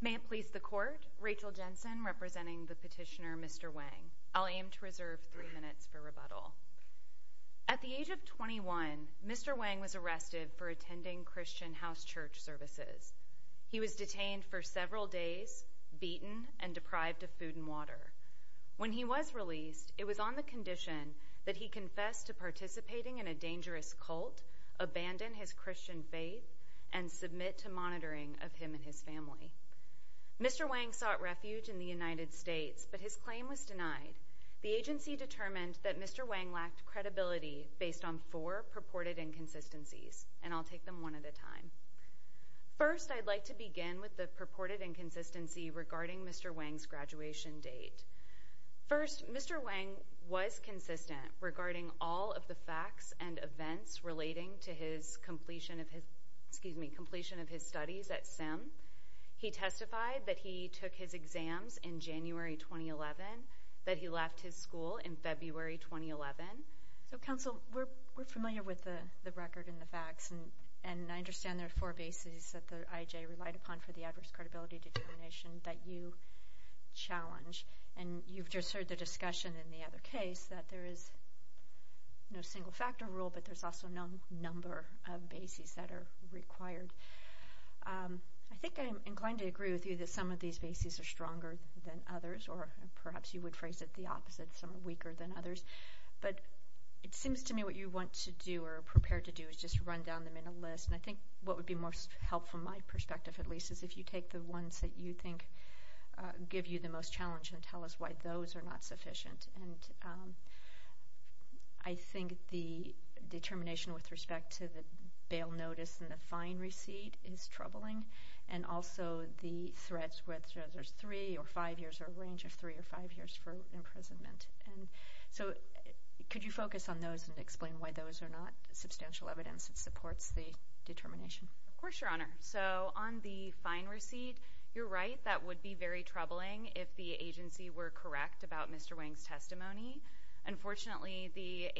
May it please the Court, Rachel Jensen representing the petitioner Mr. Wang. I'll aim to reserve three minutes for rebuttal. At the age of 21, Mr. Wang was arrested for attending Christian house church services. He was detained for several days, beaten, and deprived of food and water. When he was released, it was on the condition that he confess to participating in a dangerous cult, abandon his Christian faith, and submit to monitoring of him and his family. Mr. Wang sought refuge in the United States, but his claim was denied. The agency determined that Mr. Wang lacked credibility based on four purported inconsistencies, and I'll take them one at a time. First, I'd like to begin with the purported inconsistency regarding Mr. Wang's graduation date. First, Mr. Wang was consistent regarding all of the facts and events relating to his completion of his studies at Sim. He testified that he took his exams in January 2011, that he left his school in February 2011. So, counsel, we're familiar with the record and the facts, and I understand there are four bases that the IJ relied upon for the adverse credibility determination that you challenge, and you've just heard the discussion in the other case that there is no single factor rule, but there's also no number of bases that are required. I think I'm inclined to agree with you that some of these bases are stronger than others, or perhaps you would phrase it the opposite, some are weaker than others, but it seems to me what you want to do or are prepared to do is just run down them in a list, and I think what would be most helpful, my perspective at least, is if you take the ones that you think give you the most challenge and tell us why those are not sufficient, and I think the determination with respect to the bail notice and the fine receipt is troubling, and also the threats, whether there's three or five years or a range of three or five years for imprisonment. So could you focus on those and explain why those are not substantial evidence that supports the determination? Of course, Your Honor. So on the fine receipt, you're right, that would be very troubling if the agency were correct about Mr. Wang's testimony. Unfortunately, the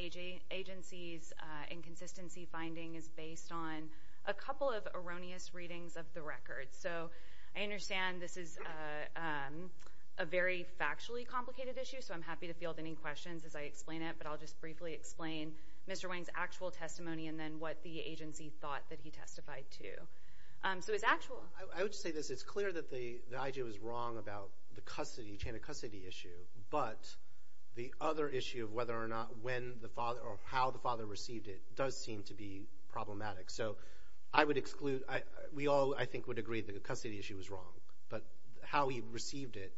agency's inconsistency finding is based on a couple of erroneous readings of the record, so I understand this is a very factually complicated issue, so I'm happy to field any questions as I explain it, but I'll just briefly explain Mr. Wang's actual testimony and then what the agency thought that he testified to. So his actual. I would say this. It's clear that the IG was wrong about the chain of custody issue, but the other issue of whether or not when the father or how the father received it does seem to be problematic. So I would exclude. We all, I think, would agree that the custody issue was wrong, but how he received it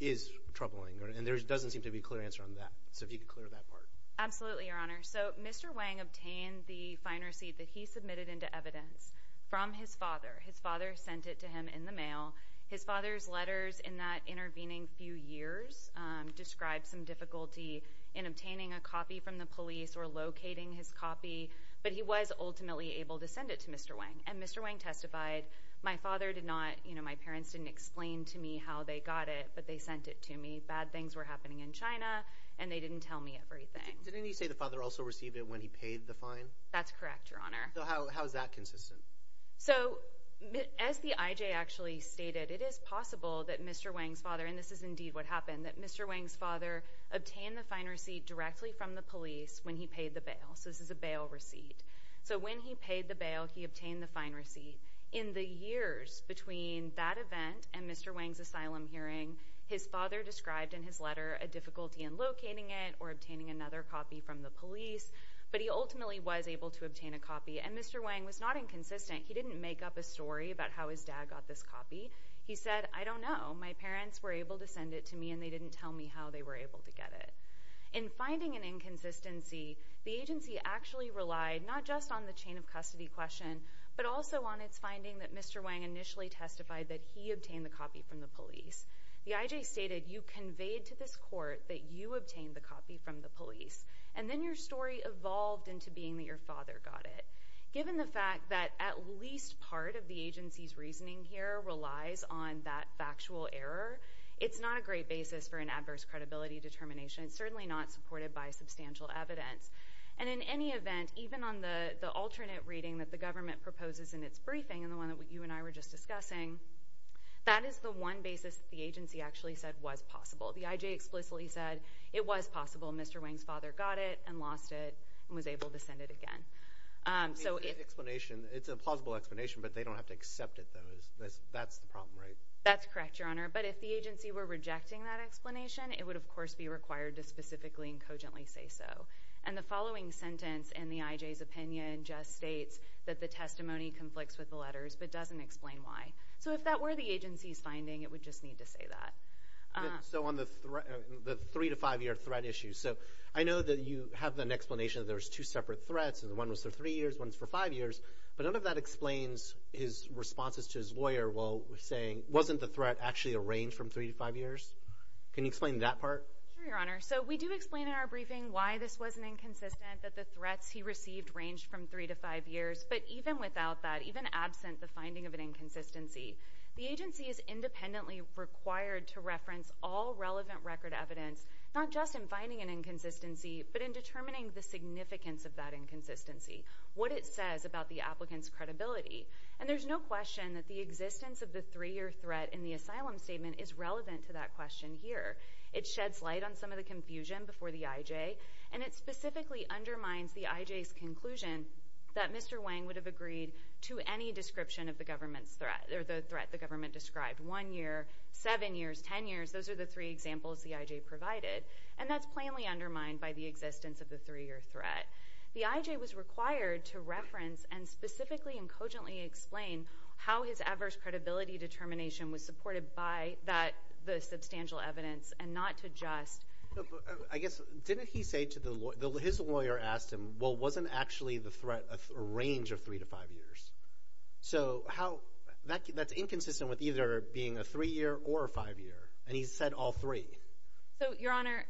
is troubling, and there doesn't seem to be a clear answer on that. So if you could clear that part. Absolutely, Your Honor. So Mr. Wang obtained the fine receipt that he submitted into evidence from his father. His father sent it to him in the mail. His father's letters in that intervening few years describe some difficulty in obtaining a copy from the police or locating his copy, but he was ultimately able to send it to Mr. Wang, and Mr. Wang testified, my father did not, you know, my parents didn't explain to me how they got it, but they sent it to me. Bad things were happening in China, and they didn't tell me everything. Didn't he say the father also received it when he paid the fine? That's correct, Your Honor. So how is that consistent? So as the IJ actually stated, it is possible that Mr. Wang's father, and this is indeed what happened, that Mr. Wang's father obtained the fine receipt directly from the police when he paid the bail. So this is a bail receipt. So when he paid the bail, he obtained the fine receipt. In the years between that event and Mr. Wang's asylum hearing, his father described in his letter a difficulty in locating it or obtaining another copy from the police, but he ultimately was able to obtain a copy, and Mr. Wang was not inconsistent. He didn't make up a story about how his dad got this copy. He said, I don't know. My parents were able to send it to me, and they didn't tell me how they were able to get it. In finding an inconsistency, the agency actually relied not just on the chain of custody question but also on its finding that Mr. Wang initially testified that he obtained the copy from the police. The IJ stated, you conveyed to this court that you obtained the copy from the police, and then your story evolved into being that your father got it. Given the fact that at least part of the agency's reasoning here relies on that factual error, it's not a great basis for an adverse credibility determination. It's certainly not supported by substantial evidence. And in any event, even on the alternate reading that the government proposes in its briefing, and the one that you and I were just discussing, that is the one basis the agency actually said was possible. The IJ explicitly said it was possible Mr. Wang's father got it and lost it and was able to send it again. It's a plausible explanation, but they don't have to accept it, though. That's the problem, right? That's correct, Your Honor, but if the agency were rejecting that explanation, it would, of course, be required to specifically and cogently say so. And the following sentence in the IJ's opinion just states that the testimony conflicts with the letters but doesn't explain why. So if that were the agency's finding, it would just need to say that. So on the three- to five-year threat issue, so I know that you have an explanation that there's two separate threats, and one was for three years, one's for five years, but none of that explains his responses to his lawyer while saying, wasn't the threat actually a range from three to five years? Can you explain that part? Sure, Your Honor. So we do explain in our briefing why this was an inconsistent, that the threats he received ranged from three to five years, but even without that, even absent the finding of an inconsistency, the agency is independently required to reference all relevant record evidence, not just in finding an inconsistency, but in determining the significance of that inconsistency, what it says about the applicant's credibility. And there's no question that the existence of the three-year threat in the asylum statement is relevant to that question here. It sheds light on some of the confusion before the IJ, and it specifically undermines the IJ's conclusion that Mr. Wang would have agreed to any description of the threat the government described. One year, seven years, ten years, those are the three examples the IJ provided, and that's plainly undermined by the existence of the three-year threat. The IJ was required to reference and specifically and cogently explain how his adverse credibility determination was supported by the substantial evidence and not to just... I guess, didn't he say to the lawyer, his lawyer asked him, well, wasn't actually the threat a range of three to five years? So how, that's inconsistent with either being a three-year or a five-year, and he said all three. So, Your Honor,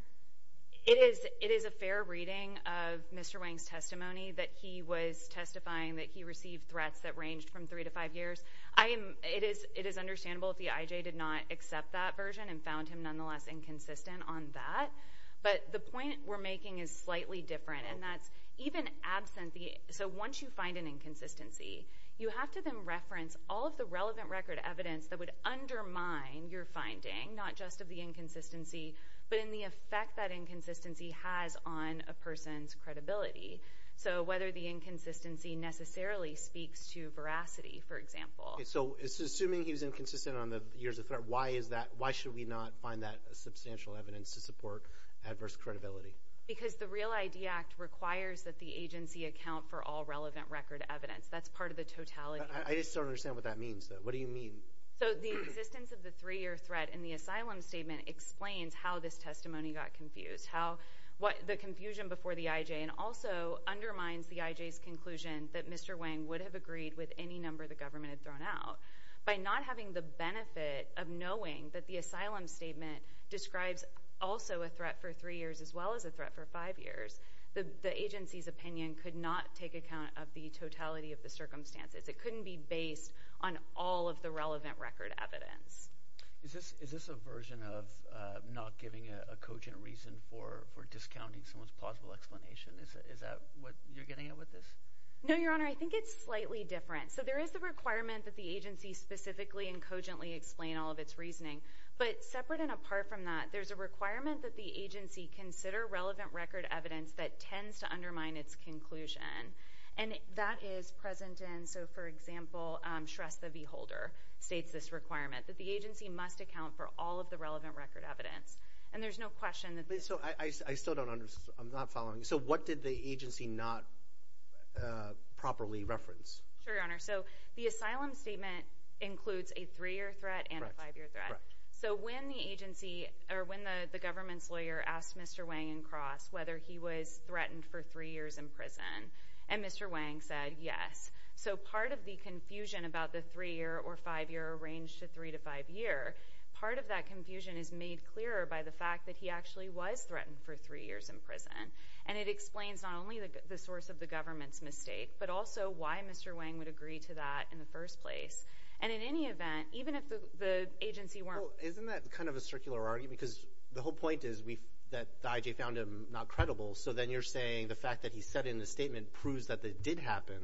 it is a fair reading of Mr. Wang's testimony that he was testifying that he received threats that ranged from three to five years. It is understandable that the IJ did not accept that version and found him nonetheless inconsistent on that, but the point we're making is slightly different, and that's even absent the... So once you find an inconsistency, you have to then reference all of the relevant record evidence that would undermine your finding, not just of the inconsistency, but in the effect that inconsistency has on a person's credibility. So whether the inconsistency necessarily speaks to veracity, for example. So assuming he was inconsistent on the years of threat, why should we not find that substantial evidence to support adverse credibility? Because the Real ID Act requires that the agency account for all relevant record evidence. That's part of the totality. I just don't understand what that means, though. What do you mean? So the existence of the three-year threat in the asylum statement explains how this testimony got confused, the confusion before the IJ, and also undermines the IJ's conclusion that Mr. Wang would have agreed with any number the government had thrown out. By not having the benefit of knowing that the asylum statement describes also a threat for three years as well as a threat for five years, the agency's opinion could not take account of the totality of the circumstances. It couldn't be based on all of the relevant record evidence. Is this a version of not giving a cogent reason for discounting someone's plausible explanation? Is that what you're getting at with this? No, Your Honor. I think it's slightly different. So there is the requirement that the agency specifically and cogently explain all of its reasoning. But separate and apart from that, there's a requirement that the agency consider relevant record evidence that tends to undermine its conclusion. And that is present in, so for example, Shrestha V. Holder states this requirement, that the agency must account for all of the relevant record evidence. And there's no question that this is— I still don't understand. I'm not following. So what did the agency not properly reference? Sure, Your Honor. So the asylum statement includes a three-year threat and a five-year threat. So when the agency, or when the government's lawyer, asked Mr. Wang and Cross whether he was threatened for three years in prison, and Mr. Wang said yes. So part of the confusion about the three-year or five-year arranged to three to five year, part of that confusion is made clearer by the fact that he actually was threatened for three years in prison. And it explains not only the source of the government's mistake, but also why Mr. Wang would agree to that in the first place. And in any event, even if the agency weren't— Well, isn't that kind of a circular argument? Because the whole point is that the IJ found him not credible. So then you're saying the fact that he said in the statement proves that it did happen.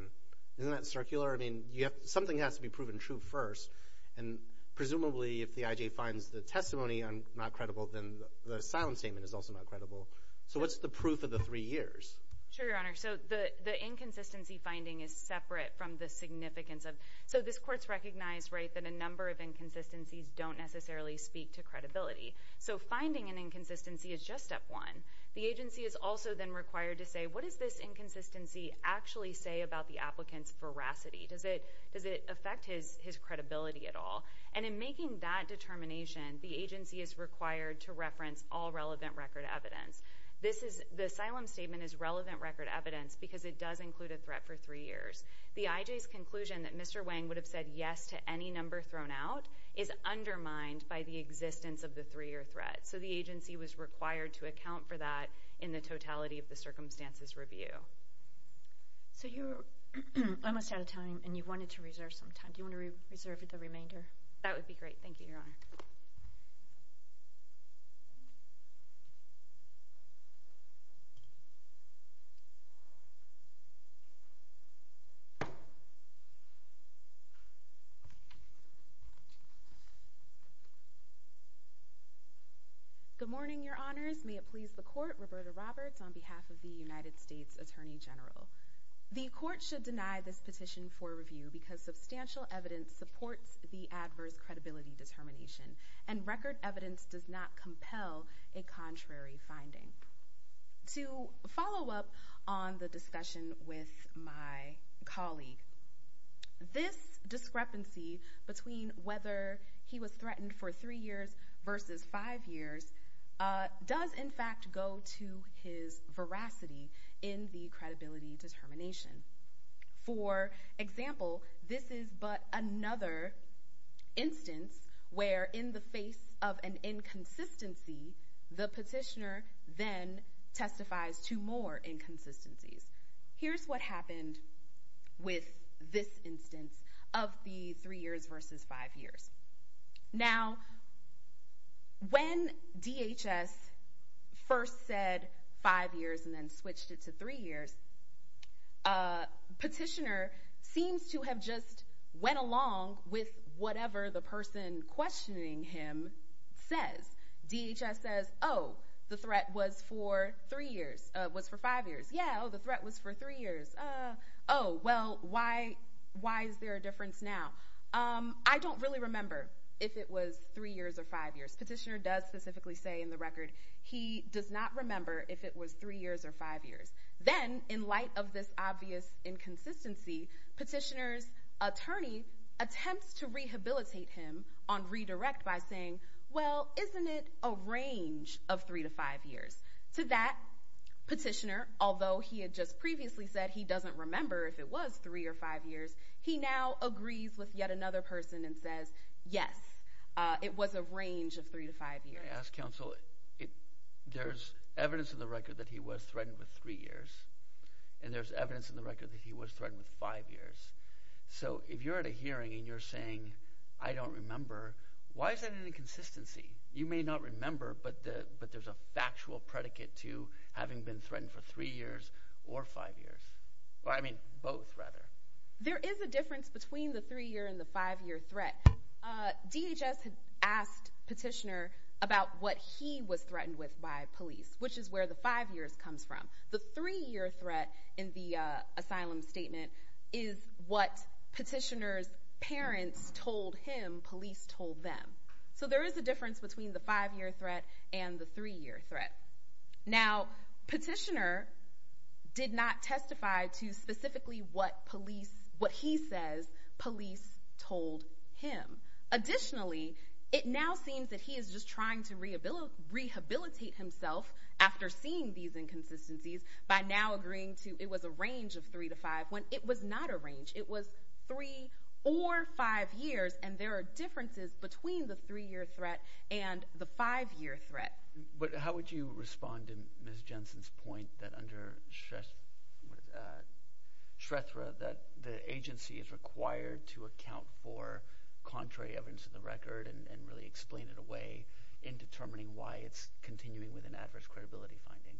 Isn't that circular? I mean, something has to be proven true first. And presumably, if the IJ finds the testimony not credible, then the asylum statement is also not credible. So what's the proof of the three years? Sure, Your Honor. So the inconsistency finding is separate from the significance of— So this Court's recognized that a number of inconsistencies don't necessarily speak to credibility. So finding an inconsistency is just step one. The agency is also then required to say, what does this inconsistency actually say about the applicant's veracity? Does it affect his credibility at all? And in making that determination, the agency is required to reference all relevant record evidence. The asylum statement is relevant record evidence because it does include a threat for three years. The IJ's conclusion that Mr. Wang would have said yes to any number thrown out is undermined by the existence of the three-year threat. So the agency was required to account for that in the totality of the circumstances review. So you're almost out of time, and you wanted to reserve some time. Do you want to reserve the remainder? That would be great. Thank you, Your Honor. Good morning, Your Honors. May it please the Court, Roberta Roberts, on behalf of the United States Attorney General. The Court should deny this petition for review because substantial evidence supports the adverse credibility determination, and record evidence does not compel a contrary finding. To follow up on the discussion with my colleague, this discrepancy between whether he was threatened for three years versus five years does, in fact, go to his veracity in the credibility determination. For example, this is but another instance where, in the face of an inconsistency, the petitioner then testifies to more inconsistencies. Here's what happened with this instance of the three years versus five years. Now, when DHS first said five years and then switched it to three years, the petitioner seems to have just went along with whatever the person questioning him says. DHS says, oh, the threat was for five years. Yeah, oh, the threat was for three years. Oh, well, why is there a difference now? I don't really remember if it was three years or five years. Petitioner does specifically say in the record he does not remember if it was three years or five years. Then, in light of this obvious inconsistency, petitioner's attorney attempts to rehabilitate him on redirect by saying, well, isn't it a range of three to five years? To that, petitioner, although he had just previously said he doesn't remember if it was three or five years, he now agrees with yet another person and says, yes, it was a range of three to five years. May I ask, counsel, there's evidence in the record that he was threatened with three years, and there's evidence in the record that he was threatened with five years. So if you're at a hearing and you're saying, I don't remember, why is that an inconsistency? You may not remember, but there's a factual predicate to having been threatened for three years or five years. I mean, both, rather. There is a difference between the three-year and the five-year threat. DHS had asked petitioner about what he was threatened with by police, which is where the five years comes from. The three-year threat in the asylum statement is what petitioner's parents told him police told them. So there is a difference between the five-year threat and the three-year threat. Now, petitioner did not testify to specifically what police, what he says police told him. Additionally, it now seems that he is just trying to rehabilitate himself after seeing these inconsistencies by now agreeing to it was a range of three to five when it was not a range. It was three or five years, and there are differences between the three-year threat and the five-year threat. But how would you respond to Ms. Jensen's point that under SHREFRA that the agency is required to account for contrary evidence to the record and really explain it away in determining why it's continuing with an adverse credibility finding?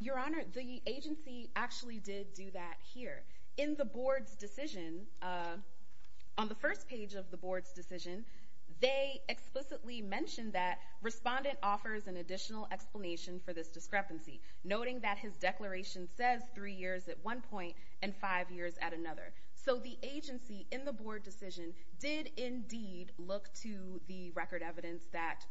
Your Honor, the agency actually did do that here. In the board's decision, on the first page of the board's decision, they explicitly mentioned that respondent offers an additional explanation for this discrepancy, noting that his declaration says three years at one point and five years at another. So the agency in the board decision did indeed look to the record evidence that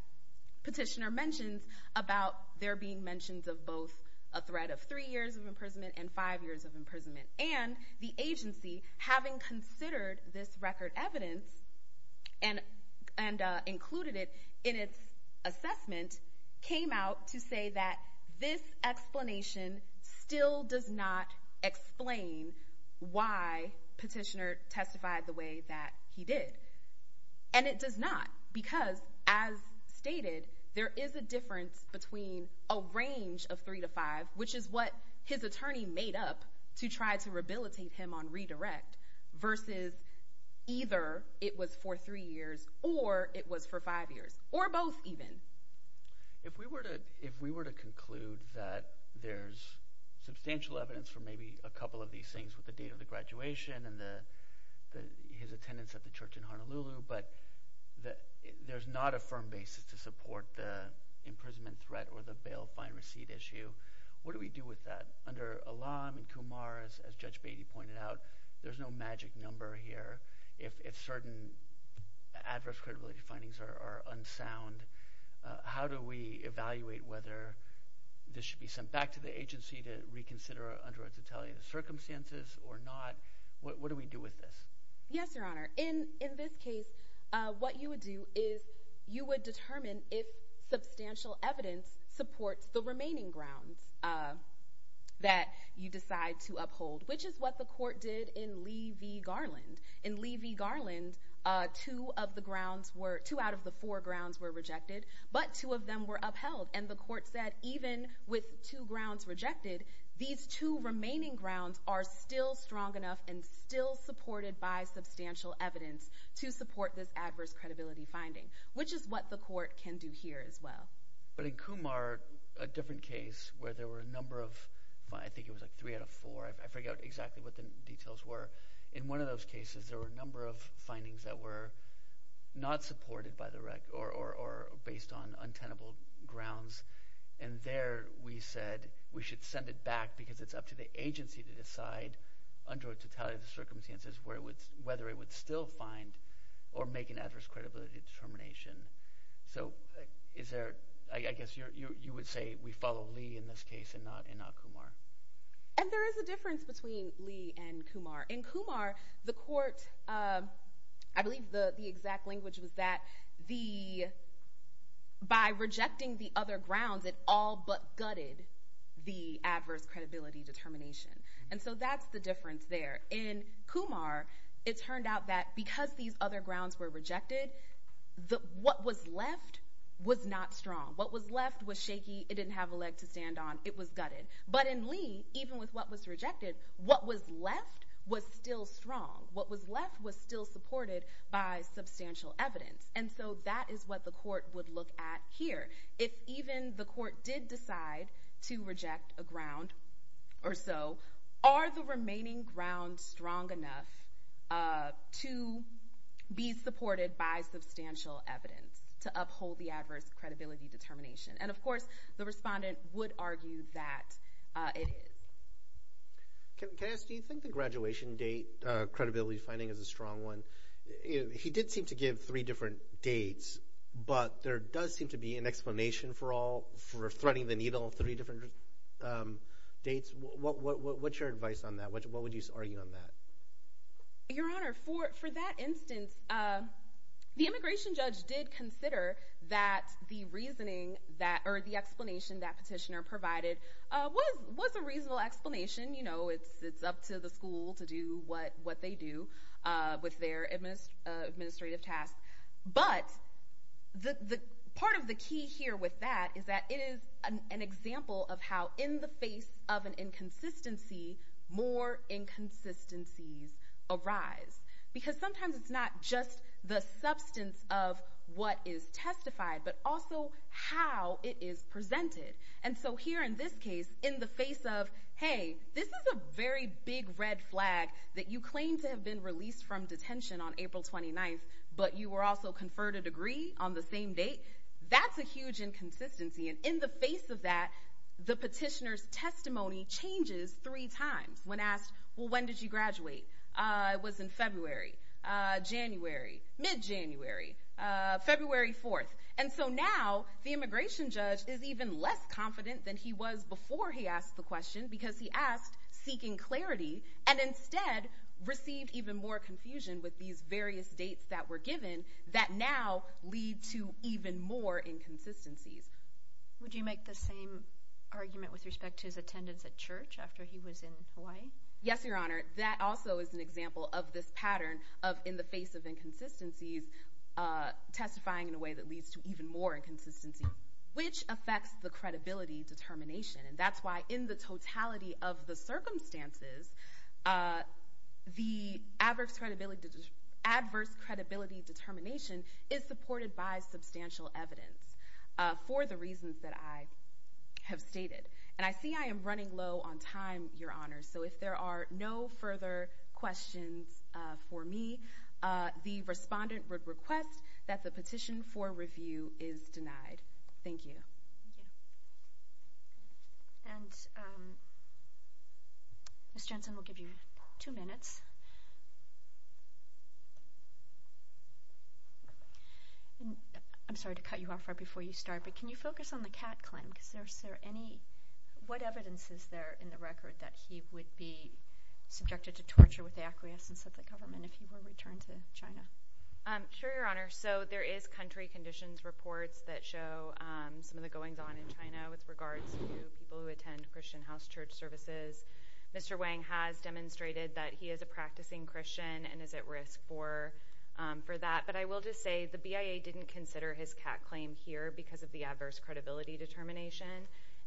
petitioner mentions about there being mentions of both a threat of three years of imprisonment and five years of imprisonment. And the agency, having considered this record evidence and included it in its assessment, came out to say that this explanation still does not explain why petitioner testified the way that he did. And it does not because, as stated, there is a difference between a range of three to five, which is what his attorney made up to try to rehabilitate him on redirect, versus either it was for three years or it was for five years, or both even. If we were to conclude that there's substantial evidence for maybe a couple of these things with the date of the graduation and his attendance at the church in Honolulu, but there's not a firm basis to support the imprisonment threat or the bail-fine-receipt issue, what do we do with that? Under Alam and Kumar, as Judge Beatty pointed out, there's no magic number here. If certain adverse credibility findings are unsound, how do we evaluate whether this should be sent back to the agency to reconsider under its retaliatory circumstances or not? What do we do with this? Yes, Your Honor. In this case, what you would do is you would determine if substantial evidence supports the remaining grounds that you decide to uphold, which is what the court did in Lee v. Garland. In Lee v. Garland, two out of the four grounds were rejected, but two of them were upheld, and the court said even with two grounds rejected, these two remaining grounds are still strong enough and still supported by substantial evidence to support this adverse credibility finding, which is what the court can do here as well. But in Kumar, a different case where there were a number of— I think it was like three out of four. I forget exactly what the details were. In one of those cases, there were a number of findings that were not supported by the rec or based on untenable grounds, and there we said we should send it back because it's up to the agency to decide under a totality of the circumstances whether it would still find or make an adverse credibility determination. So is there—I guess you would say we follow Lee in this case and not Kumar. And there is a difference between Lee and Kumar. In Kumar, the court—I believe the exact language was that by rejecting the other grounds, it all but gutted the adverse credibility determination, and so that's the difference there. In Kumar, it turned out that because these other grounds were rejected, what was left was not strong. What was left was shaky. It didn't have a leg to stand on. It was gutted. But in Lee, even with what was rejected, what was left was still strong. What was left was still supported by substantial evidence. And so that is what the court would look at here. If even the court did decide to reject a ground or so, are the remaining grounds strong enough to be supported by substantial evidence to uphold the adverse credibility determination? And, of course, the respondent would argue that it is. Can I ask, do you think the graduation date credibility finding is a strong one? He did seem to give three different dates, but there does seem to be an explanation for threading the needle on three different dates. What's your advice on that? What would you argue on that? Your Honor, for that instance, the immigration judge did consider that the reasoning or the explanation that petitioner provided was a reasonable explanation. You know, it's up to the school to do what they do with their administrative tasks. But part of the key here with that is that it is an example of how, in the face of an inconsistency, more inconsistencies arise. Because sometimes it's not just the substance of what is testified, but also how it is presented. And so here, in this case, in the face of, hey, this is a very big red flag that you claim to have been released from detention on April 29th, but you were also conferred a degree on the same date, that's a huge inconsistency. And in the face of that, the petitioner's testimony changes three times when asked, well, when did you graduate? It was in February, January, mid-January, February 4th. And so now the immigration judge is even less confident than he was before he asked the question because he asked seeking clarity and instead received even more confusion with these various dates that were given that now lead to even more inconsistencies. Would you make the same argument with respect to his attendance at church after he was in Hawaii? Yes, Your Honor. That also is an example of this pattern of, in the face of inconsistencies, testifying in a way that leads to even more inconsistencies, which affects the credibility determination. And that's why in the totality of the circumstances, the adverse credibility determination is supported by substantial evidence for the reasons that I have stated. And I see I am running low on time, Your Honor, so if there are no further questions for me, the respondent would request that the petition for review is denied. Thank you. Thank you. Ms. Jensen, we'll give you two minutes. I'm sorry to cut you off right before you start, but can you focus on the Catt claim? What evidence is there in the record that he would be subjected to torture with the acquiescence of the government if he were to return to China? Sure, Your Honor. So there is country conditions reports that show some of the goings-on in China with regards to people who attend Christian house church services. Mr. Wang has demonstrated that he is a practicing Christian and is at risk for that. But I will just say the BIA didn't consider his Catt claim here because of the adverse credibility determination,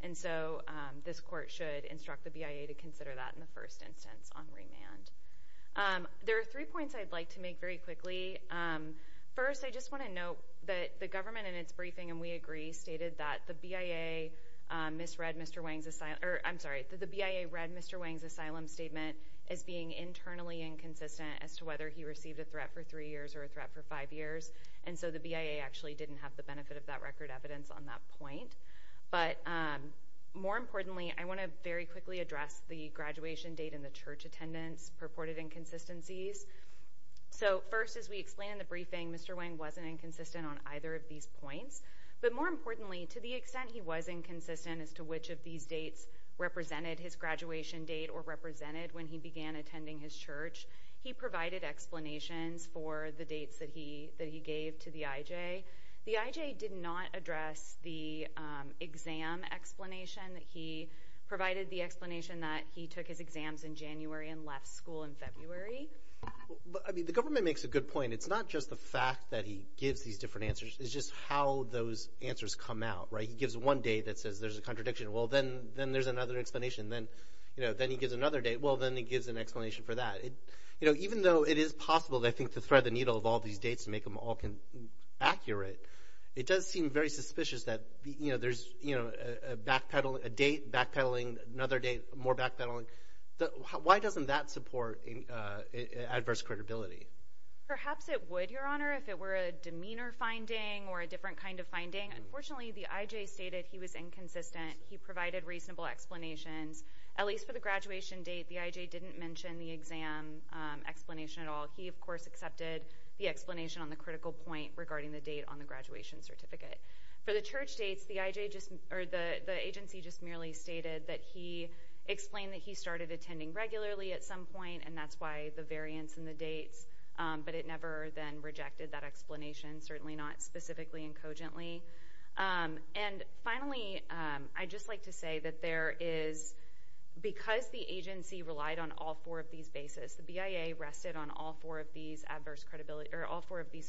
and so this court should instruct the BIA to consider that in the first instance on remand. There are three points I'd like to make very quickly. First, I just want to note that the government in its briefing, and we agree, stated that the BIA read Mr. Wang's asylum statement as being internally inconsistent as to whether he received a threat for three years or a threat for five years, and so the BIA actually didn't have the benefit of that record evidence on that point. But more importantly, I want to very quickly address the graduation date and the church attendance purported inconsistencies. So first, as we explained in the briefing, Mr. Wang wasn't inconsistent on either of these points, but more importantly, to the extent he was inconsistent as to which of these dates represented his graduation date or represented when he began attending his church, he provided explanations for the dates that he gave to the IJ. The IJ did not address the exam explanation. He provided the explanation that he took his exams in January and left school in February. I mean, the government makes a good point. It's not just the fact that he gives these different answers. It's just how those answers come out, right? He gives one date that says there's a contradiction. Well, then there's another explanation. Then he gives another date. Well, then he gives an explanation for that. Even though it is possible, I think, to thread the needle of all these dates and make them all accurate, it does seem very suspicious that there's a date backpedaling, another date more backpedaling. Why doesn't that support adverse credibility? Perhaps it would, Your Honor, if it were a demeanor finding or a different kind of finding. Unfortunately, the IJ stated he was inconsistent. He provided reasonable explanations. At least for the graduation date, the IJ didn't mention the exam explanation at all. He, of course, accepted the explanation on the critical point regarding the date on the graduation certificate. For the church dates, the agency just merely stated that he explained that he started attending regularly at some point, and that's why the variance in the dates. But it never then rejected that explanation, certainly not specifically and cogently. Finally, I'd just like to say that because the agency relied on all four of these bases, the BIA rested on all four of these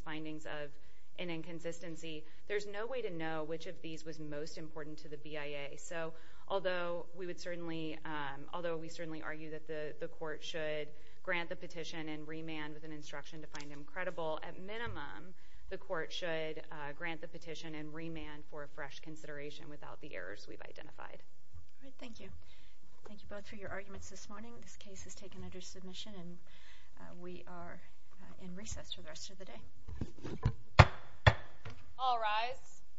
findings of an inconsistency, there's no way to know which of these was most important to the BIA. Although we certainly argue that the court should grant the petition and remand with an instruction to find him credible, at minimum, the court should grant the petition and remand for a fresh consideration without the errors we've identified. All right. Thank you. Thank you both for your arguments this morning. This case is taken under submission, and we are in recess for the rest of the day. All rise.